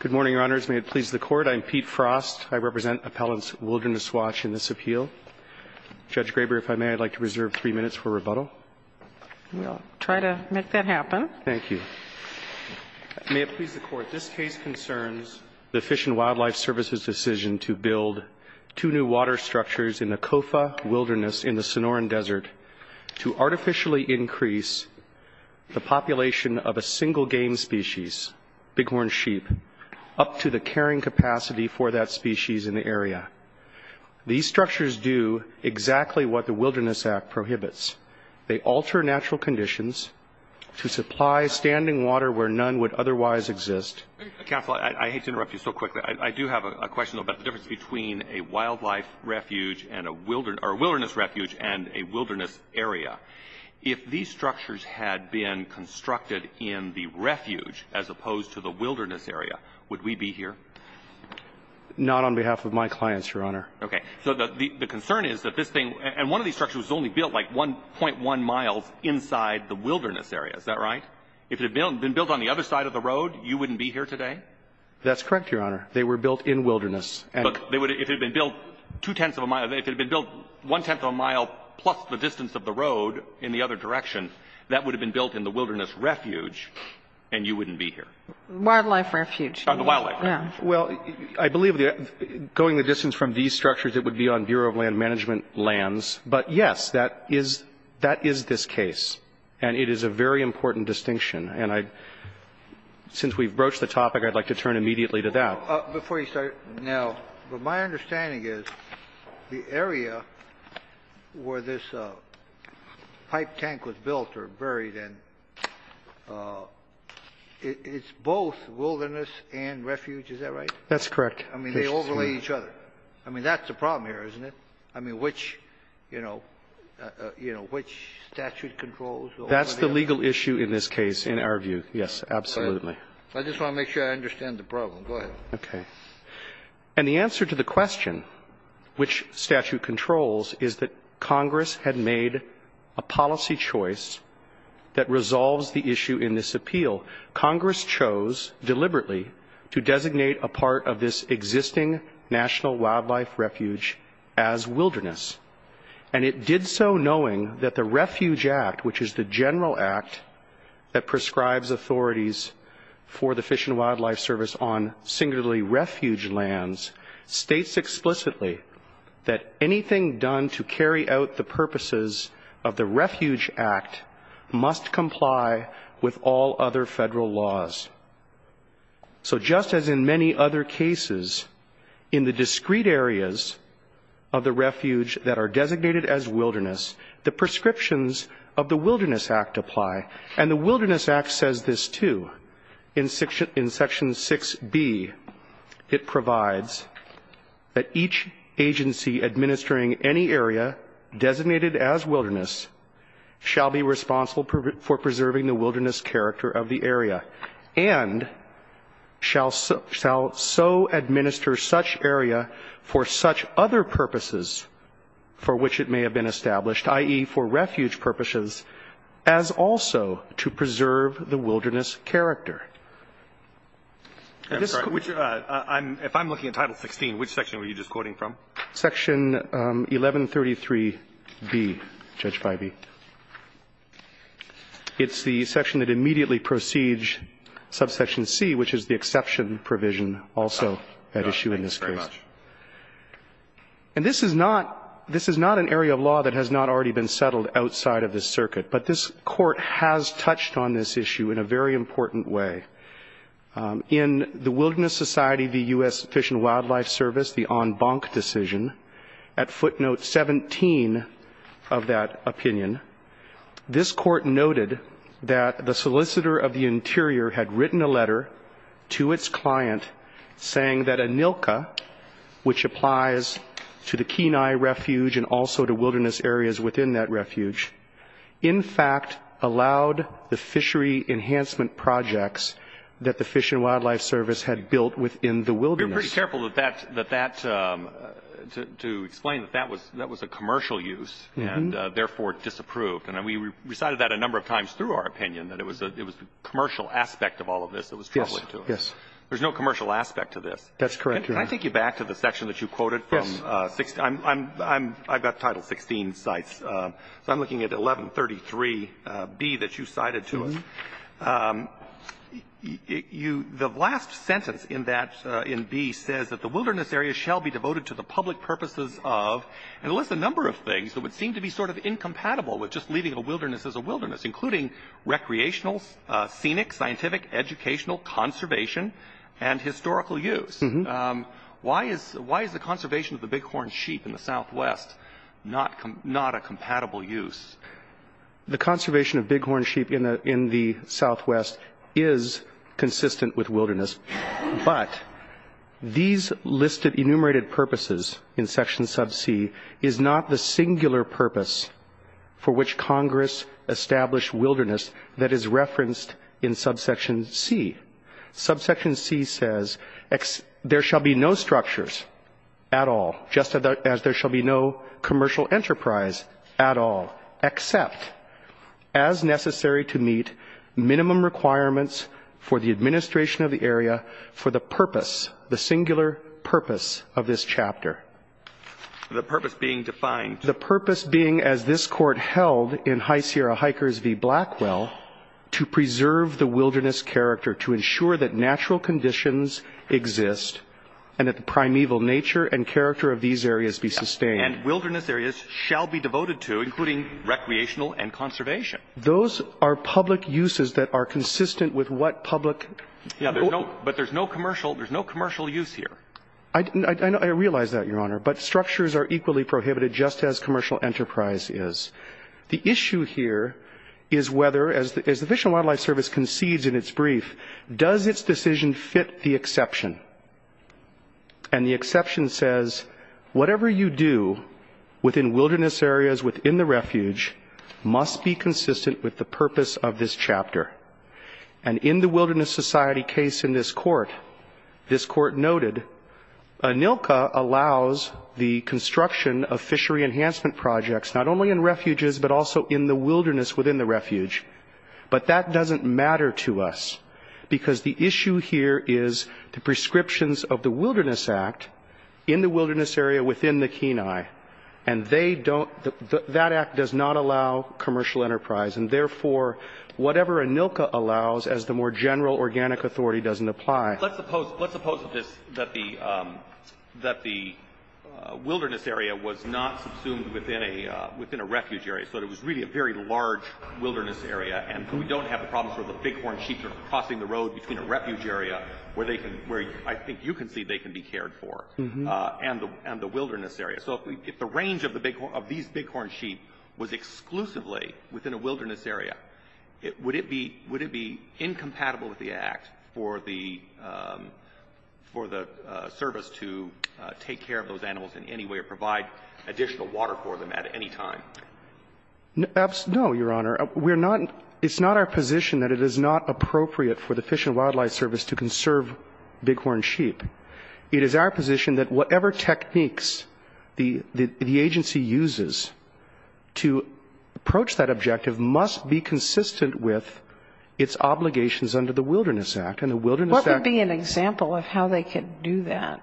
Good morning, Your Honors. May it please the Court, I'm Pete Frost. I represent Appellant's Wilderness Watch in this appeal. Judge Graber, if I may, I'd like to reserve three minutes for rebuttal. We'll try to make that happen. Thank you. May it please the Court, this case concerns the Fish and Wildlife Service's decision to build two new water structures in the Kofa Wilderness in the Sonoran Desert to artificially increase the population of a single game species, bighorn sheep, up to the carrying capacity for that species in the area. These structures do exactly what the Wilderness Act prohibits. They alter natural conditions to supply standing water where none would otherwise exist. Counsel, I hate to interrupt you so quickly. I do have a question about the difference between a wildlife refuge and a wilderness refuge and a wilderness area. If these structures had been constructed in the refuge as opposed to the wilderness area, would we be here? Not on behalf of my clients, Your Honor. Okay. So the concern is that this thing, and one of these structures was only built, like, 1.1 miles inside the wilderness area. Is that right? If it had been built on the other side of the road, you wouldn't be here today? That's correct, Your Honor. They were built in wilderness. Look, if it had been built two-tenths of a mile, if it had been built one-tenth of a mile plus the distance of the road in the other direction, that would have been built in the wilderness refuge, and you wouldn't be here. Wildlife refuge. Oh, the wildlife refuge. Well, I believe going the distance from these structures, it would be on Bureau of Land Management lands. But, yes, that is this case. And it is a very important distinction. And since we've broached the topic, I'd like to turn immediately to that. Before you start, now, my understanding is the area where this pipe tank was built or buried in, it's both wilderness and refuge. Is that right? That's correct. I mean, they overlay each other. I mean, that's the problem here, isn't it? I mean, which, you know, you know, which statute controls the overlay? That's the legal issue in this case, in our view, yes, absolutely. I just want to make sure I understand the problem. Go ahead. Okay. And the answer to the question, which statute controls, is that Congress had made a policy choice that resolves the issue in this appeal. Congress chose deliberately to designate a part of this existing national wildlife refuge as wilderness. And it did so knowing that the Refuge Act, which is the general act that prescribes authorities for the Fish and Wildlife Service on singularly refuge lands, states explicitly that anything done to carry out the purposes of the Refuge Act must comply with all other federal laws. So just as in many other cases, in the discrete areas of the refuge that are designated as wilderness, the prescriptions of the Wilderness Act apply. And the Wilderness Act says this, too. In section 6b, it provides that each agency administering any area designated as wilderness shall be responsible for preserving the wilderness character of the area and shall so administer such area for such other purposes for which it may have been established, i.e., for refuge purposes, as also to preserve the wilderness character. And this is quite the case. Alito, if I'm looking at Title 16, which section were you just quoting from? Section 1133b, Judge Feige. It's the section that immediately precedes subsection c, which is the exception provision also at issue in this case. Oh, no, thank you very much. And this is not an area of law that has not already been settled outside of this circuit. But this Court has touched on this issue in a very important way. In the Wilderness Society v. U.S. Fish and Wildlife Service, the en banc decision, at footnote 17 of that opinion, this Court noted that the solicitor of the interior had written a letter to its client saying that a NILCA, which applies to the Kenai Refuge and also to wilderness areas within that refuge, in fact allowed the fishery enhancement projects that the Fish and Wildlife Service had built within the wilderness. We were pretty careful that that, to explain, that that was a commercial use and therefore disapproved. And we recited that a number of times through our opinion, that it was the commercial aspect of all of this that was troubling to us. Yes. Yes. There's no commercial aspect to this. That's correct, Your Honor. Can I take you back to the section that you quoted from? Yes. I've got Title 16 cites, so I'm looking at 1133B that you cited to us. The last sentence in that, in B, says that the wilderness areas shall be devoted to the public purposes of, and lists a number of things that would seem to be sort of incompatible with just leaving a wilderness as a wilderness, including recreational, scenic, scientific, educational, conservation, and historical use. Why is the conservation of the bighorn sheep in the Southwest not a compatible use? The conservation of bighorn sheep in the Southwest is consistent with wilderness, but these listed enumerated purposes in Section Sub C is not the singular purpose for which Congress established wilderness that is referenced in Subsection C. Subsection C says there shall be no structures at all, just as there shall be no commercial enterprise at all, except as necessary to meet minimum requirements for the administration of the area for the purpose, the singular purpose of this chapter. The purpose being defined. The purpose being, as this Court held in High Sierra Hikers v. Blackwell, to preserve the wilderness character, to ensure that natural conditions exist and that the primeval nature and character of these areas be sustained. And wilderness areas shall be devoted to, including recreational and conservation. Those are public uses that are consistent with what public. But there's no commercial use here. I realize that, Your Honor, but structures are equally prohibited, just as commercial enterprise is. The issue here is whether, as the Fish and Wildlife Service concedes in its brief, does its decision fit the exception? And the exception says, whatever you do within wilderness areas within the refuge must be consistent with the purpose of this chapter. And in the Wilderness Society case in this Court, this Court noted, ANILCA allows the construction of fishery enhancement projects, not only in refuges, but also in the wilderness within the refuge. But that doesn't matter to us, because the issue here is the prescriptions of the Wilderness Act in the wilderness area within the Kenai. And that Act does not allow commercial enterprise. And therefore, whatever ANILCA allows, as the more general organic authority doesn't apply. Let's suppose that the wilderness area was not subsumed within a refuge area, so it was really a very large wilderness area. And we don't have a problem for the bighorn sheep crossing the road between a refuge area, where I think you can see they can be cared for, and the wilderness area. So if the range of these bighorn sheep was exclusively within a wilderness area, would it be incompatible with the Act for the service to take care of those animals in any way or provide additional water for them at any time? No, Your Honor. It's not our position that it is not appropriate for the Fish and Wildlife Service to conserve bighorn sheep. It is our position that whatever techniques the agency uses to approach that objective must be consistent with its obligations under the Wilderness Act. And the Wilderness Act What would be an example of how they could do that,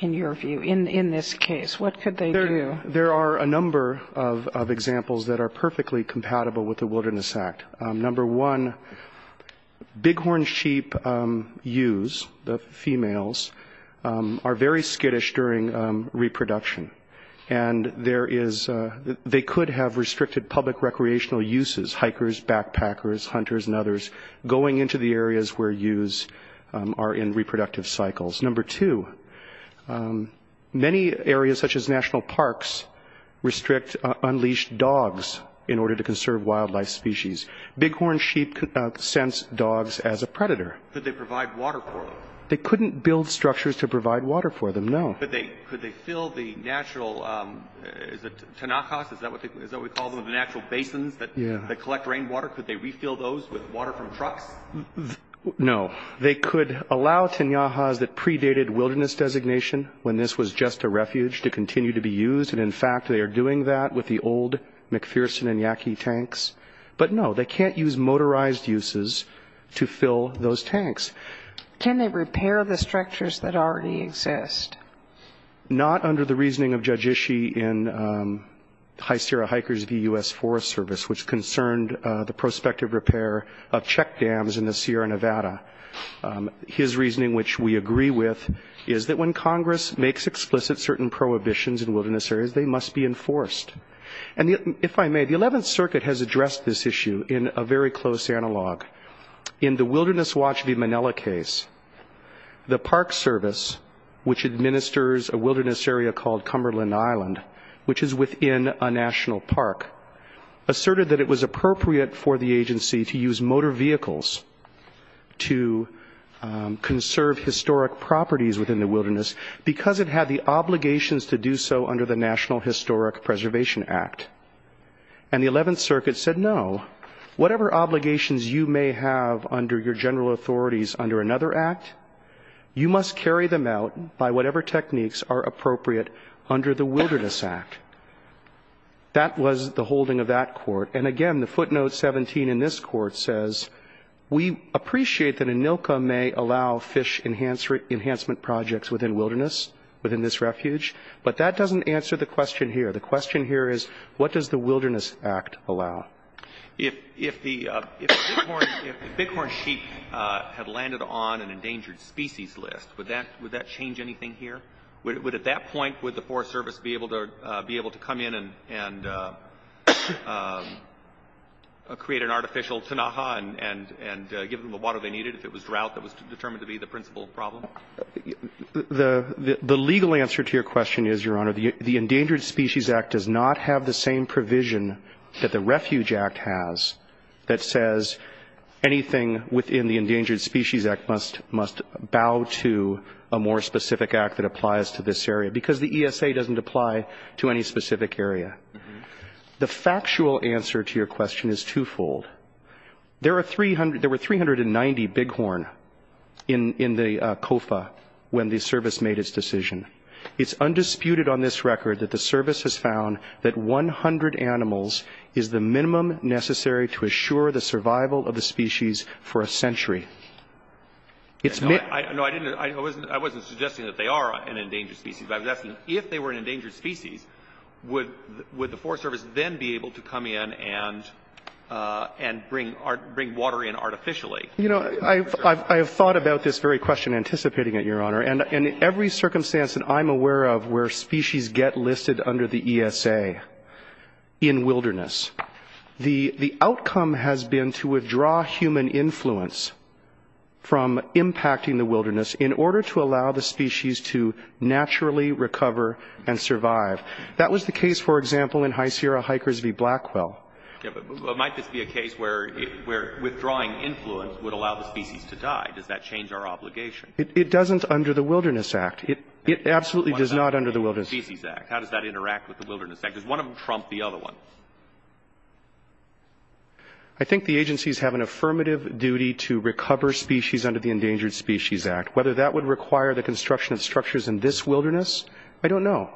in your view, in this case? What could they do? There are a number of examples that are perfectly compatible with the Wilderness Act. Number one, bighorn sheep ewes, the females, are very skittish during reproduction. And they could have restricted public recreational uses, hikers, backpackers, hunters, and others, going into the areas where ewes are in reproductive cycles. Number two, many areas such as national parks restrict unleashed dogs in order to conserve wildlife species. Bighorn sheep sense dogs as a predator. Could they provide water for them? They couldn't build structures to provide water for them, no. Could they fill the natural, is it tenakas, is that what we call them, the natural basins that collect rainwater? Could they refill those with water from trucks? No. They could allow tenakas that predated wilderness designation when this was just a refuge to continue to be used. And in fact, they are doing that with the old McPherson and Yaki tanks. But no, they can't use motorized uses to fill those tanks. Can they repair the structures that already exist? Not under the reasoning of Judge Ishii in High Sierra Hikers v. U.S. Forest Service, which concerned the prospective repair of check dams in the Sierra Nevada. His reasoning, which we agree with, is that when Congress makes explicit certain prohibitions in wilderness areas, they must be enforced. And if I may, the 11th Circuit has addressed this issue in a very close analog. In the Wilderness Watch v. Manila case, the Park Service, which administers a wilderness area called Cumberland Island, which is within a national park, asserted that it was appropriate for the agency to use motor vehicles to conserve historic properties within the wilderness because it had the obligations to do so under the National Historic Preservation Act. And the 11th Circuit said, no, whatever obligations you may have under your general authorities under another act, you must carry them out by whatever techniques are appropriate under the Wilderness Act. That was the holding of that court. And again, the footnote 17 in this court says, we appreciate that ANILCA may allow fish enhancement projects within wilderness, within this refuge, but that doesn't answer the question here. The question here is, what does the Wilderness Act allow? If the bighorn sheep had landed on an endangered species list, would that change anything here? Would at that point, would the Forest Service be able to come in and create an artificial tanaha and give them the water they needed if it was drought that was determined to be the principal problem? Now, the legal answer to your question is, Your Honor, the Endangered Species Act does not have the same provision that the Refuge Act has that says anything within the Endangered Species Act must bow to a more specific act that applies to this area because the ESA doesn't apply to any specific area. The factual answer to your question is twofold. There were 390 bighorn in the COFA when the Service made its decision. It's undisputed on this record that the Service has found that 100 animals is the minimum necessary to assure the survival of the species for a century. No, I didn't. I wasn't suggesting that they are an endangered species, but I was asking, if they were an endangered species, would they be able to come in and bring water in artificially? You know, I have thought about this very question, anticipating it, Your Honor, and in every circumstance that I'm aware of where species get listed under the ESA in wilderness, the outcome has been to withdraw human influence from impacting the wilderness in order to allow the species to naturally recover and survive. That was the case, for example, in High Sierra Hikers v. Blackwell. Yeah, but might this be a case where withdrawing influence would allow the species to die? Does that change our obligation? It doesn't under the Wilderness Act. It absolutely does not under the Wilderness Act. How does that interact with the Wilderness Act? Does one of them trump the other one? I think the agencies have an affirmative duty to recover species under the Endangered Species Act. Whether that would require the construction of structures in this wilderness, I don't know.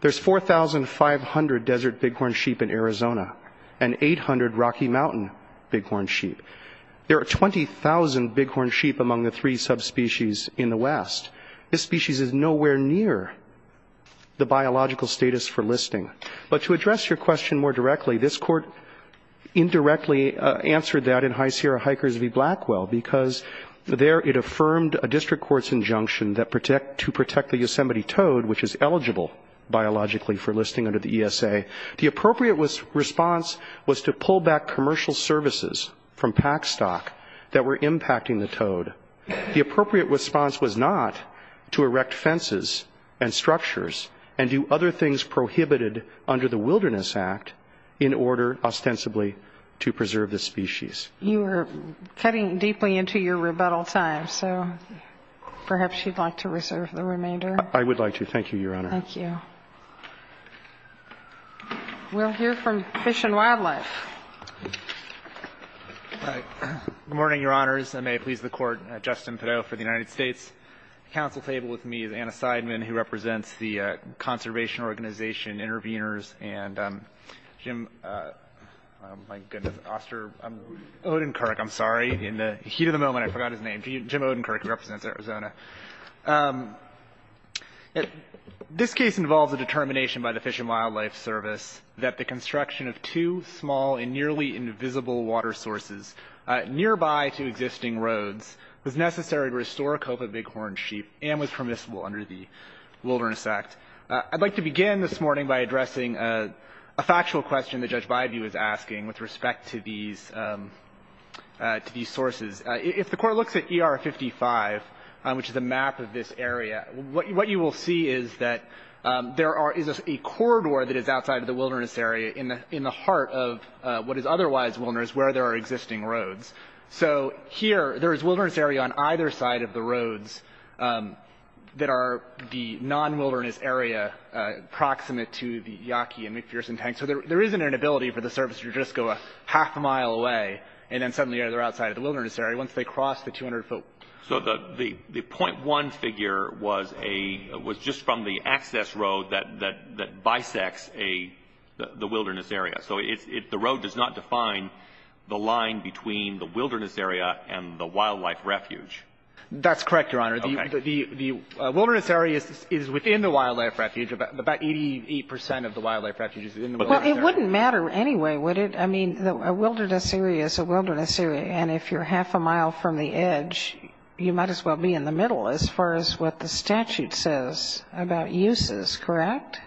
There's 4,500 desert bighorn sheep in Arizona and 800 Rocky Mountain bighorn sheep. There are 20,000 bighorn sheep among the three subspecies in the West. This species is nowhere near the biological status for listing. But to address your question more directly, this Court indirectly answered that in High Sierra Hikers v. Blackwell, because there it affirmed a district court's injunction that to protect the Yosemite toad, which is eligible biologically for listing under the ESA, the appropriate response was to pull back commercial services from pack stock that were impacting the toad. The appropriate response was not to erect fences and structures and do other things prohibited under the Wilderness Act in order, ostensibly, to preserve the species. You are cutting deeply into your rebuttal time, so perhaps you'd like to reserve the remainder. I would like to. Thank you, Your Honor. Thank you. We'll hear from Fish and Wildlife. Good morning, Your Honors, and may it please the Court. Justin Pideaux for the United States. At the council table with me is Anna Seidman, who represents the conservation organization, Intervenors, and Jim, oh, my goodness, Oster, Odenkirk, I'm sorry. In the heat of the moment, I forgot his name. Jim Odenkirk represents Arizona. This case involves a determination by the Fish and Wildlife Service that the construction of two small and nearly invisible water sources nearby to existing roads was necessary to restore a cope of bighorn sheep and was permissible under the Wilderness Act. I'd like to begin this morning by addressing a factual question that Judge Byview is asking with respect to these sources. If the Court looks at ER 55, which is a map of this area, what you will see is that there is a corridor that is outside of the wilderness area in the heart of what is otherwise wilderness, where there are existing roads. So here, there is wilderness area on either side of the roads that are the non-wilderness area proximate to the Yaqui and McPherson tanks. So there is an inability for the service to just go a half a mile away and then suddenly they're outside of the wilderness area once they cross the 200-foot. So the .1 figure was just from the access road that bisects the wilderness area. So the road does not define the line between the wilderness area and the wildlife refuge. That's correct, Your Honor. Okay. The wilderness area is within the wildlife refuge. About 88 percent of the wildlife refuge is within the wilderness area. Well, it wouldn't matter anyway, would it? I mean, a wilderness area is a wilderness area. And if you're half a mile from the edge, you might as well be in the middle as far as what the statute says about uses, correct?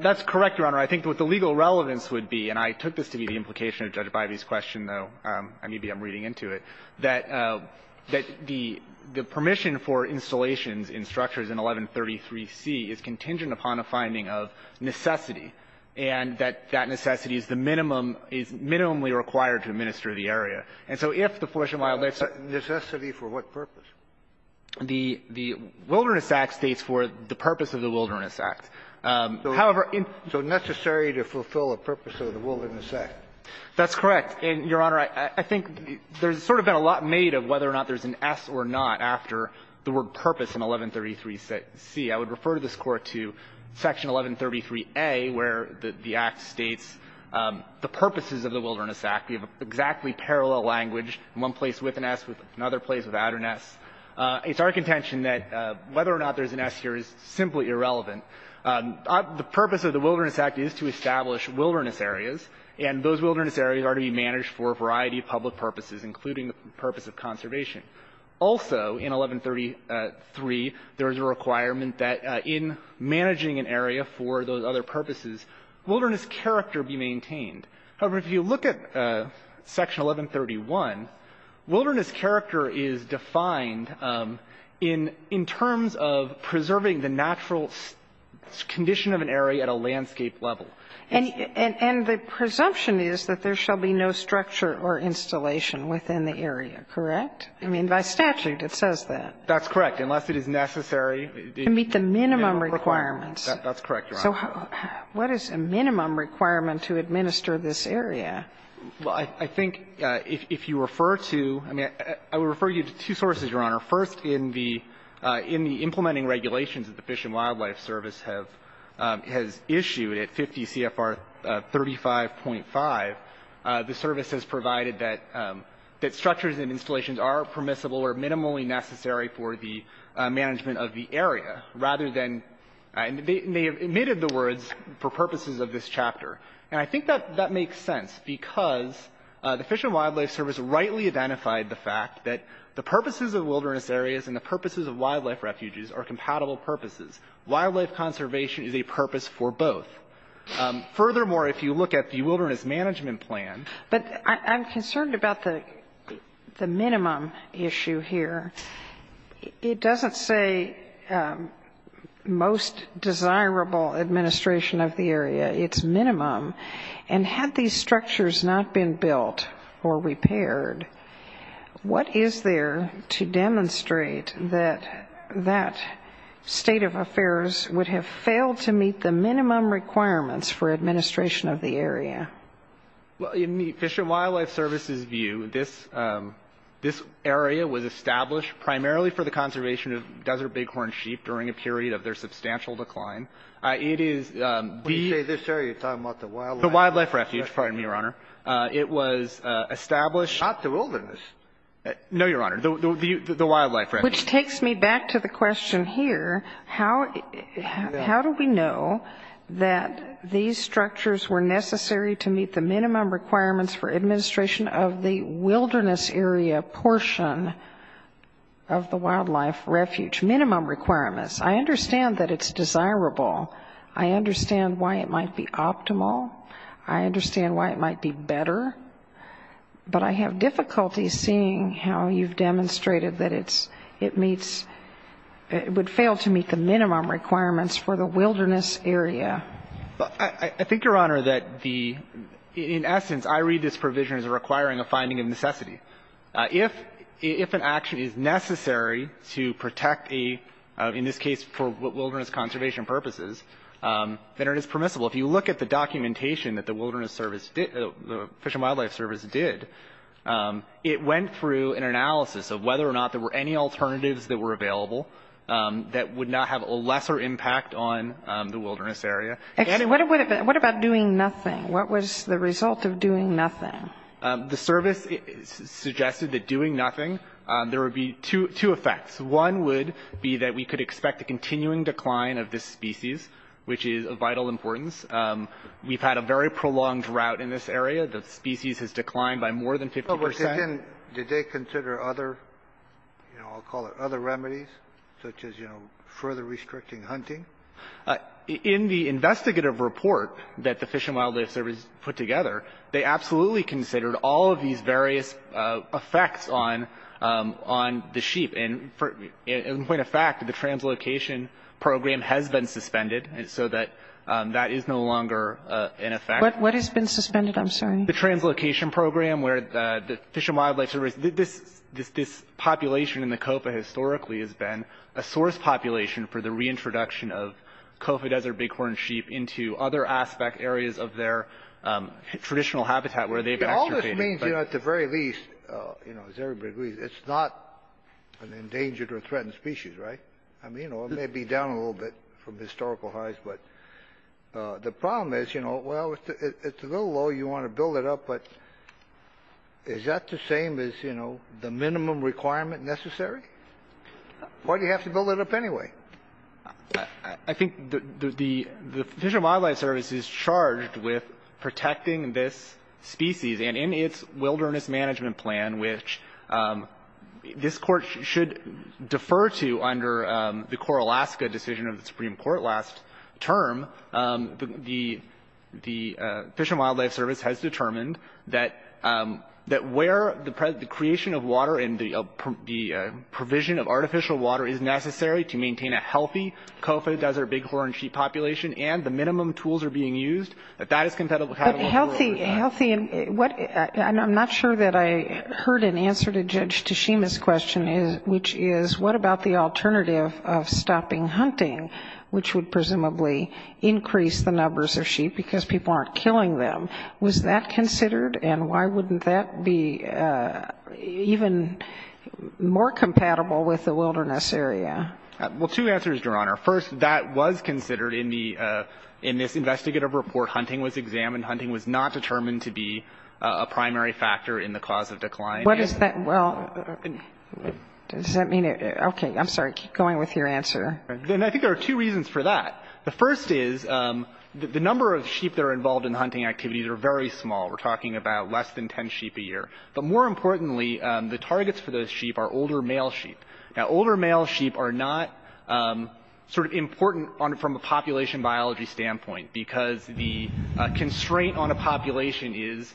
That's correct, Your Honor. I think what the legal relevance would be, and I took this to be the implication of Judge Bivey's question, though, and maybe I'm reading into it, that the permission for installations in structures in 1133C is contingent upon a finding of necessity, and that that necessity is the minimum, is minimally required to administer the area. And so if the forest and wildlife site needs to be for what purpose? The Wilderness Act states for the purpose of the Wilderness Act. However, in the Wilderness Act, it states for the purpose of the Wilderness Act. That's correct. And, Your Honor, I think there's sort of been a lot made of whether or not there's an S or not after the word purpose in 1133C. I would refer to this Court to Section 1133A, where the Act states the purposes of the Wilderness Act. We have exactly parallel language, one place with an S, another place without an S. It's our contention that whether or not there's an S here is simply irrelevant. The purpose of the Wilderness Act is to establish wilderness areas, and those wilderness areas are to be managed for a variety of public purposes, including the purpose of conservation. Also in 1133, there is a requirement that in managing an area for those other purposes, wilderness character be maintained. However, if you look at Section 1131, wilderness character is defined in terms of preserving the natural condition of an area at a landscape level. And the presumption is that there shall be no structure or installation within the area, correct? I mean, by statute, it says that. That's correct. Unless it is necessary. To meet the minimum requirements. That's correct, Your Honor. So what is a minimum requirement to administer this area? Well, I think if you refer to – I mean, I would refer you to two sources, Your Honor. One is the regulations that the Fish and Wildlife Service has issued at 50 CFR 35.5. The service has provided that structures and installations are permissible or minimally necessary for the management of the area, rather than – and they have omitted the words for purposes of this chapter. And I think that makes sense because the Fish and Wildlife Service rightly identified the fact that the purposes of wilderness areas and the purposes of wildlife refuges are compatible purposes. Wildlife conservation is a purpose for both. Furthermore, if you look at the Wilderness Management Plan – But I'm concerned about the minimum issue here. It doesn't say most desirable administration of the area. It's minimum. And had these structures not been built or repaired, what is there to demonstrate that that state of affairs would have failed to meet the minimum requirements for administration of the area? Well, in the Fish and Wildlife Service's view, this area was established primarily for the conservation of desert bighorn sheep during a period of their substantial decline. It is the – When you say this area, you're talking about the wildlife – The wildlife refuge. Pardon me, Your Honor. It was established – Not the wilderness. No, Your Honor. The wildlife refuge. Which takes me back to the question here. How do we know that these structures were necessary to meet the minimum requirements for administration of the wilderness area portion of the wildlife refuge? Minimum requirements. I understand that it's desirable. I understand why it might be optimal. I understand why it might be better. But I have difficulty seeing how you've demonstrated that it's – it meets – it would fail to meet the minimum requirements for the wilderness area. I think, Your Honor, that the – in essence, I read this provision as requiring a finding of necessity. If an action is necessary to protect a – in this case, for wilderness conservation purposes, then it is permissible. If you look at the documentation that the wilderness service did – the Fish and Wildlife Service did, it went through an analysis of whether or not there were any alternatives that were available that would not have a lesser impact on the wilderness area. What about doing nothing? What was the result of doing nothing? The service suggested that doing nothing, there would be two effects. One would be that we could expect a continuing decline of this species, which is of vital importance. We've had a very prolonged drought in this area. The species has declined by more than 50 percent. Did they consider other – you know, I'll call it other remedies, such as, you know, further restricting hunting? In the investigative report that the Fish and Wildlife Service put together, they absolutely considered all of these various effects on the sheep. And in point of fact, the translocation program has been suspended so that that is no longer in effect. What has been suspended? I'm sorry. The translocation program where the Fish and Wildlife Service – this population in the COFA historically has been a source population for the reintroduction of COFA desert bighorn sheep into other aspect areas of their traditional habitat where they've extirpated. All this means, you know, at the very least, you know, as everybody agrees, it's not an endangered or threatened species, right? I mean, you know, it may be down a little bit from historical highs, but the problem is, you know, well, it's a little low. You want to build it up, but is that the same as, you know, the minimum requirement necessary? Why do you have to build it up anyway? I think the Fish and Wildlife Service is charged with protecting this species. And in its Wilderness Management Plan, which this Court should defer to under the Coralaska decision of the Supreme Court last term, the Fish and Wildlife Service has determined that where the creation of water and the provision of artificial water is necessary to maintain a healthy COFA desert bighorn sheep population and the minimum tools are being used, that that is compatible with the rules. But healthy – and I'm not sure that I heard an answer to Judge Tashima's question, which is what about the alternative of stopping hunting, which would presumably increase the numbers of sheep because people aren't killing them. Was that considered? And why wouldn't that be even more compatible with the wilderness area? Well, two answers, Your Honor. First, that was considered in this investigative report. Hunting was examined. Hunting was not determined to be a primary factor in the cause of decline. What does that – well, does that mean – okay, I'm sorry. Keep going with your answer. And I think there are two reasons for that. The first is the number of sheep that are involved in hunting activities are very small. We're talking about less than 10 sheep a year. But more importantly, the targets for those sheep are older male sheep. Now, older male sheep are not sort of important from a population biology standpoint because the constraint on a population is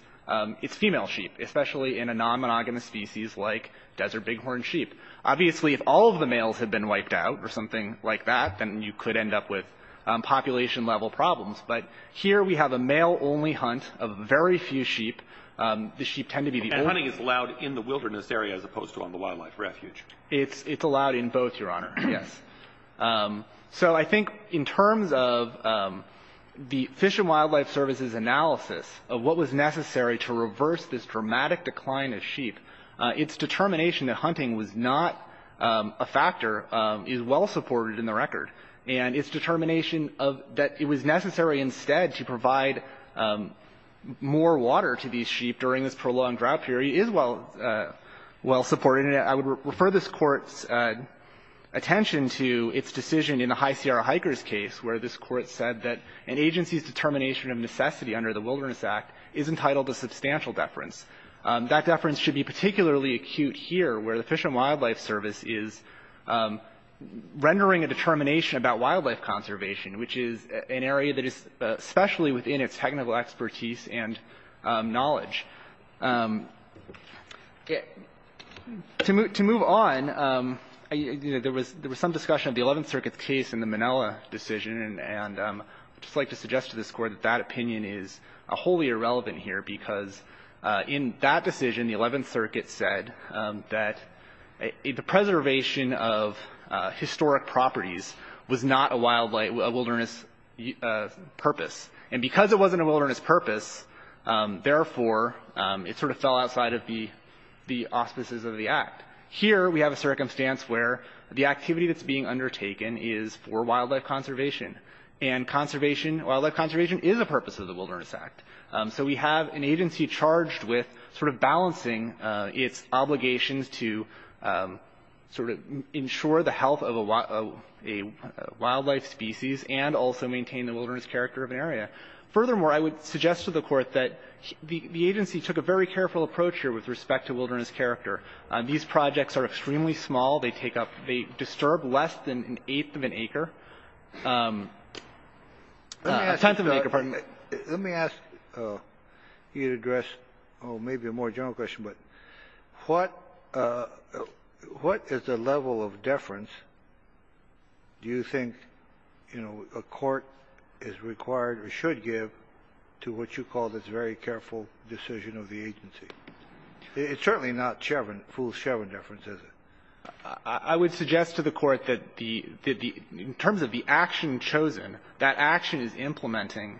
it's female sheep, especially in a non-monogamous species like desert bighorn sheep. Obviously, if all of the males had been wiped out or something like that, then you could end up with population-level problems. But here we have a male-only hunt of very few sheep. The sheep tend to be the oldest. And hunting is allowed in the wilderness area as opposed to on the wildlife refuge. It's allowed in both, Your Honor, yes. So I think in terms of the Fish and Wildlife Service's analysis of what was necessary to reverse this dramatic decline of sheep, its determination that hunting was not a factor is well supported in the record. And its determination that it was necessary instead to provide more water to these sheep during this prolonged drought period is well supported. And I would refer this Court's attention to its decision in the High Sierra Hikers case where this Court said that an agency's determination of necessity under the Wilderness Act is entitled to substantial deference. That deference should be particularly acute here where the Fish and Wildlife Service is rendering a determination about wildlife conservation, which is an area that is especially within its technical expertise and knowledge. To move on, there was some discussion of the Eleventh Circuit's case and the Manila decision. And I'd just like to suggest to this Court that that opinion is wholly irrelevant here because in that decision, the Eleventh Circuit said that the preservation of historic properties was not a wilderness purpose. And because it wasn't a wilderness purpose, therefore, it sort of fell outside of the auspices of the Act. Here we have a circumstance where the activity that's being undertaken is for wildlife conservation. And wildlife conservation is a purpose of the Wilderness Act. So we have an agency charged with sort of balancing its obligations to sort of ensure the health of a wildlife species and also maintain the wilderness character of an area. Furthermore, I would suggest to the Court that the agency took a very careful approach here with respect to wilderness character. These projects are extremely small. They take up the – disturb less than an eighth of an acre. Let me ask you to address maybe a more general question, but what is the level of deference do you think, you know, a court is required or should give to what you call this very careful decision of the agency? It's certainly not full Chevron deference, is it? I would suggest to the Court that the – in terms of the action chosen, that action is implementing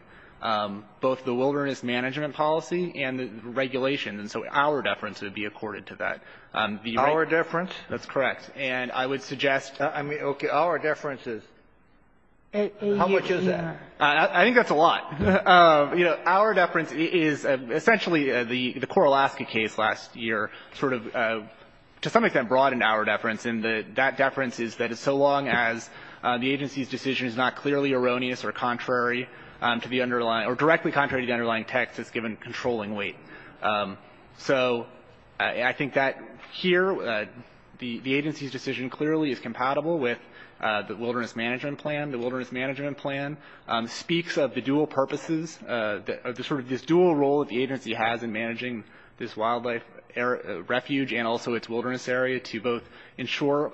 both the wilderness management policy and the regulation. And so our deference would be accorded to that. Our deference? That's correct. And I would suggest – I mean, okay. Our deference is how much is that? I think that's a lot. You know, our deference is essentially the Coralaska case last year sort of to some deference. And that deference is that it's so long as the agency's decision is not clearly erroneous or contrary to the underlying – or directly contrary to the underlying text that's given controlling weight. So I think that here the agency's decision clearly is compatible with the wilderness management plan. The wilderness management plan speaks of the dual purposes – of the sort of this dual role that the agency has in managing this wildlife refuge and also its wilderness area to both ensure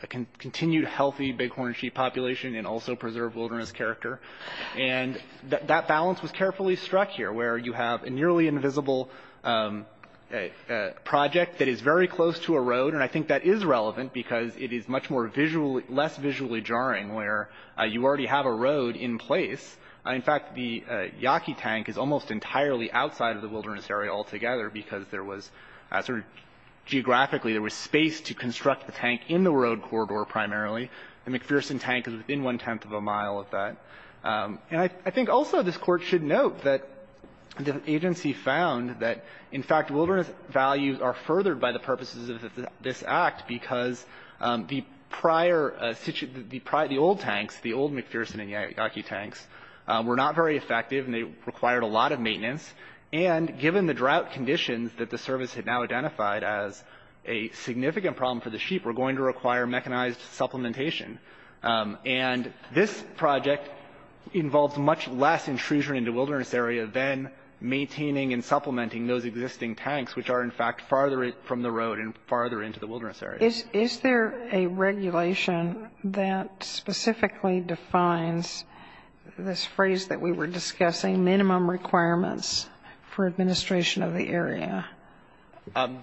a continued healthy bighorn sheep population and also preserve wilderness character. And that balance was carefully struck here where you have a nearly invisible project that is very close to a road. And I think that is relevant because it is much more visually – less visually jarring where you already have a road in place. In fact, the Yaqui Tank is almost entirely outside of the wilderness area altogether because there was – sort of geographically there was space to construct the tank in the road corridor primarily. The McPherson Tank is within one-tenth of a mile of that. And I think also this Court should note that the agency found that, in fact, wilderness values are furthered by the purposes of this Act because the prior – the old tanks, the old McPherson and Yaqui Tanks, were not very effective and they required a lot of maintenance. And given the drought conditions that the service had now identified as a significant problem for the sheep, were going to require mechanized supplementation. And this project involves much less intrusion into wilderness area than maintaining and supplementing those existing tanks which are, in fact, farther from the road and farther into the wilderness area. Is there a regulation that specifically defines this phrase that we were discussing, minimum requirements for administration of the area?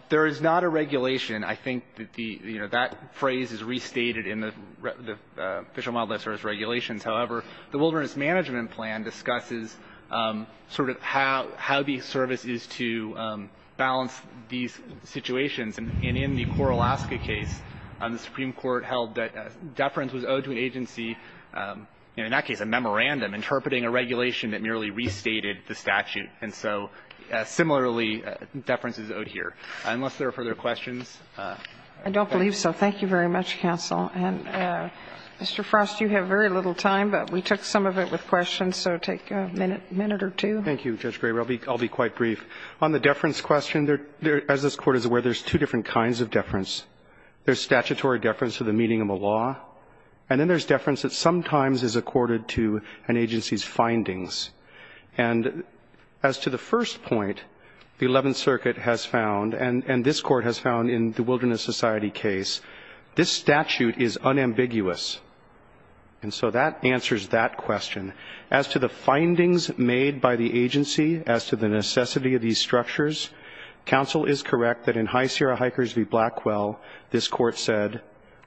There is not a regulation. I think that the – you know, that phrase is restated in the Official Wildlife Service regulations. However, the Wilderness Management Plan discusses sort of how the service is to balance these situations. And in the Cora-Alaska case, the Supreme Court held that deference was owed to an agency, in that case a memorandum, interpreting a regulation that merely restated the statute. And so similarly, deference is owed here. Unless there are further questions. I don't believe so. Thank you very much, counsel. And, Mr. Frost, you have very little time, but we took some of it with questions, so take a minute, a minute or two. Thank you, Judge Graber. I'll be quite brief. On the deference question, as this Court is aware, there's two different kinds of deference. There's statutory deference to the meaning of a law, and then there's deference that sometimes is accorded to an agency's findings. And as to the first point, the Eleventh Circuit has found, and this Court has found in the Wilderness Society case, this statute is unambiguous. And so that answers that question. As to the findings made by the agency as to the necessity of these structures, counsel is correct that in High Sierra Hikers v. Blackwell, this Court said,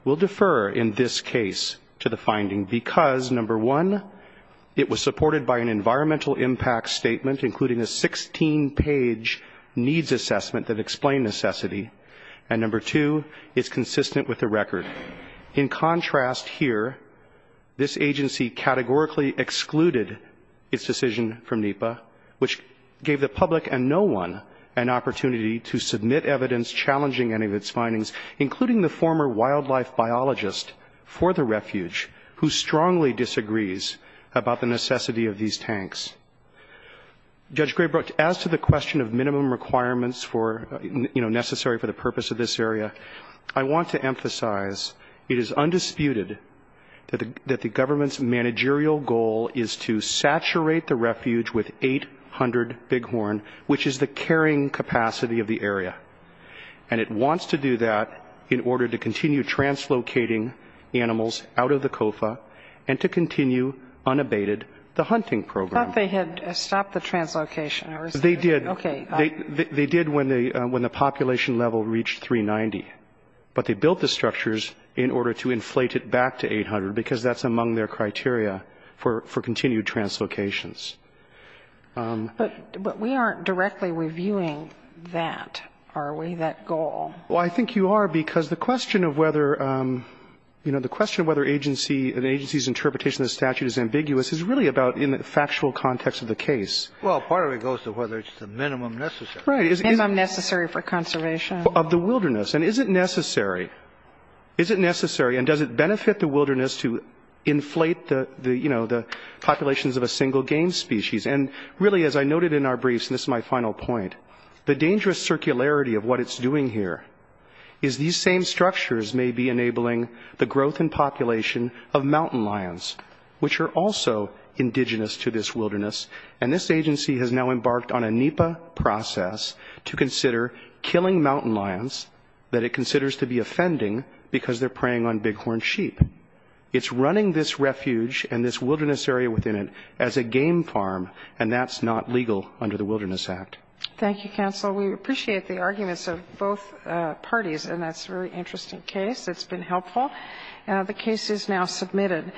we'll defer in this case to the finding because, number one, it was supported by an environmental impact statement, including a 16-page needs assessment that explained necessity, and, number two, it's consistent with the record. In contrast here, this agency categorically excluded its decision from NEPA, which gave the public and no one an opportunity to submit evidence challenging any of its wildlife biologists for the refuge who strongly disagrees about the necessity of these tanks. Judge Graybrook, as to the question of minimum requirements for, you know, necessary for the purpose of this area, I want to emphasize it is undisputed that the government's managerial goal is to saturate the refuge with 800 bighorn, which is the carrying capacity of the area. And it wants to do that in order to continue translocating animals out of the COFA and to continue unabated the hunting program. I thought they had stopped the translocation. They did. Okay. They did when the population level reached 390. But they built the structures in order to inflate it back to 800 because that's among their criteria for continued translocations. But we aren't directly reviewing that, are we, that goal? Well, I think you are because the question of whether, you know, the question of whether an agency's interpretation of the statute is ambiguous is really about in the factual context of the case. Well, part of it goes to whether it's the minimum necessary. Right. Minimum necessary for conservation. Of the wilderness. And is it necessary? Is it necessary? And does it benefit the wilderness to inflate the, you know, the populations of a single game species? And really, as I noted in our briefs, and this is my final point, the dangerous circularity of what it's doing here is these same structures may be enabling the growth and population of mountain lions, which are also indigenous to this wilderness. And this agency has now embarked on a NEPA process to consider killing mountain lions that it considers to be offending because they're preying on bighorn sheep. It's running this refuge and this wilderness area within it as a game farm, and that's not legal under the Wilderness Act. Thank you, counsel. We appreciate the arguments of both parties. And that's a very interesting case. It's been helpful. The case is now submitted.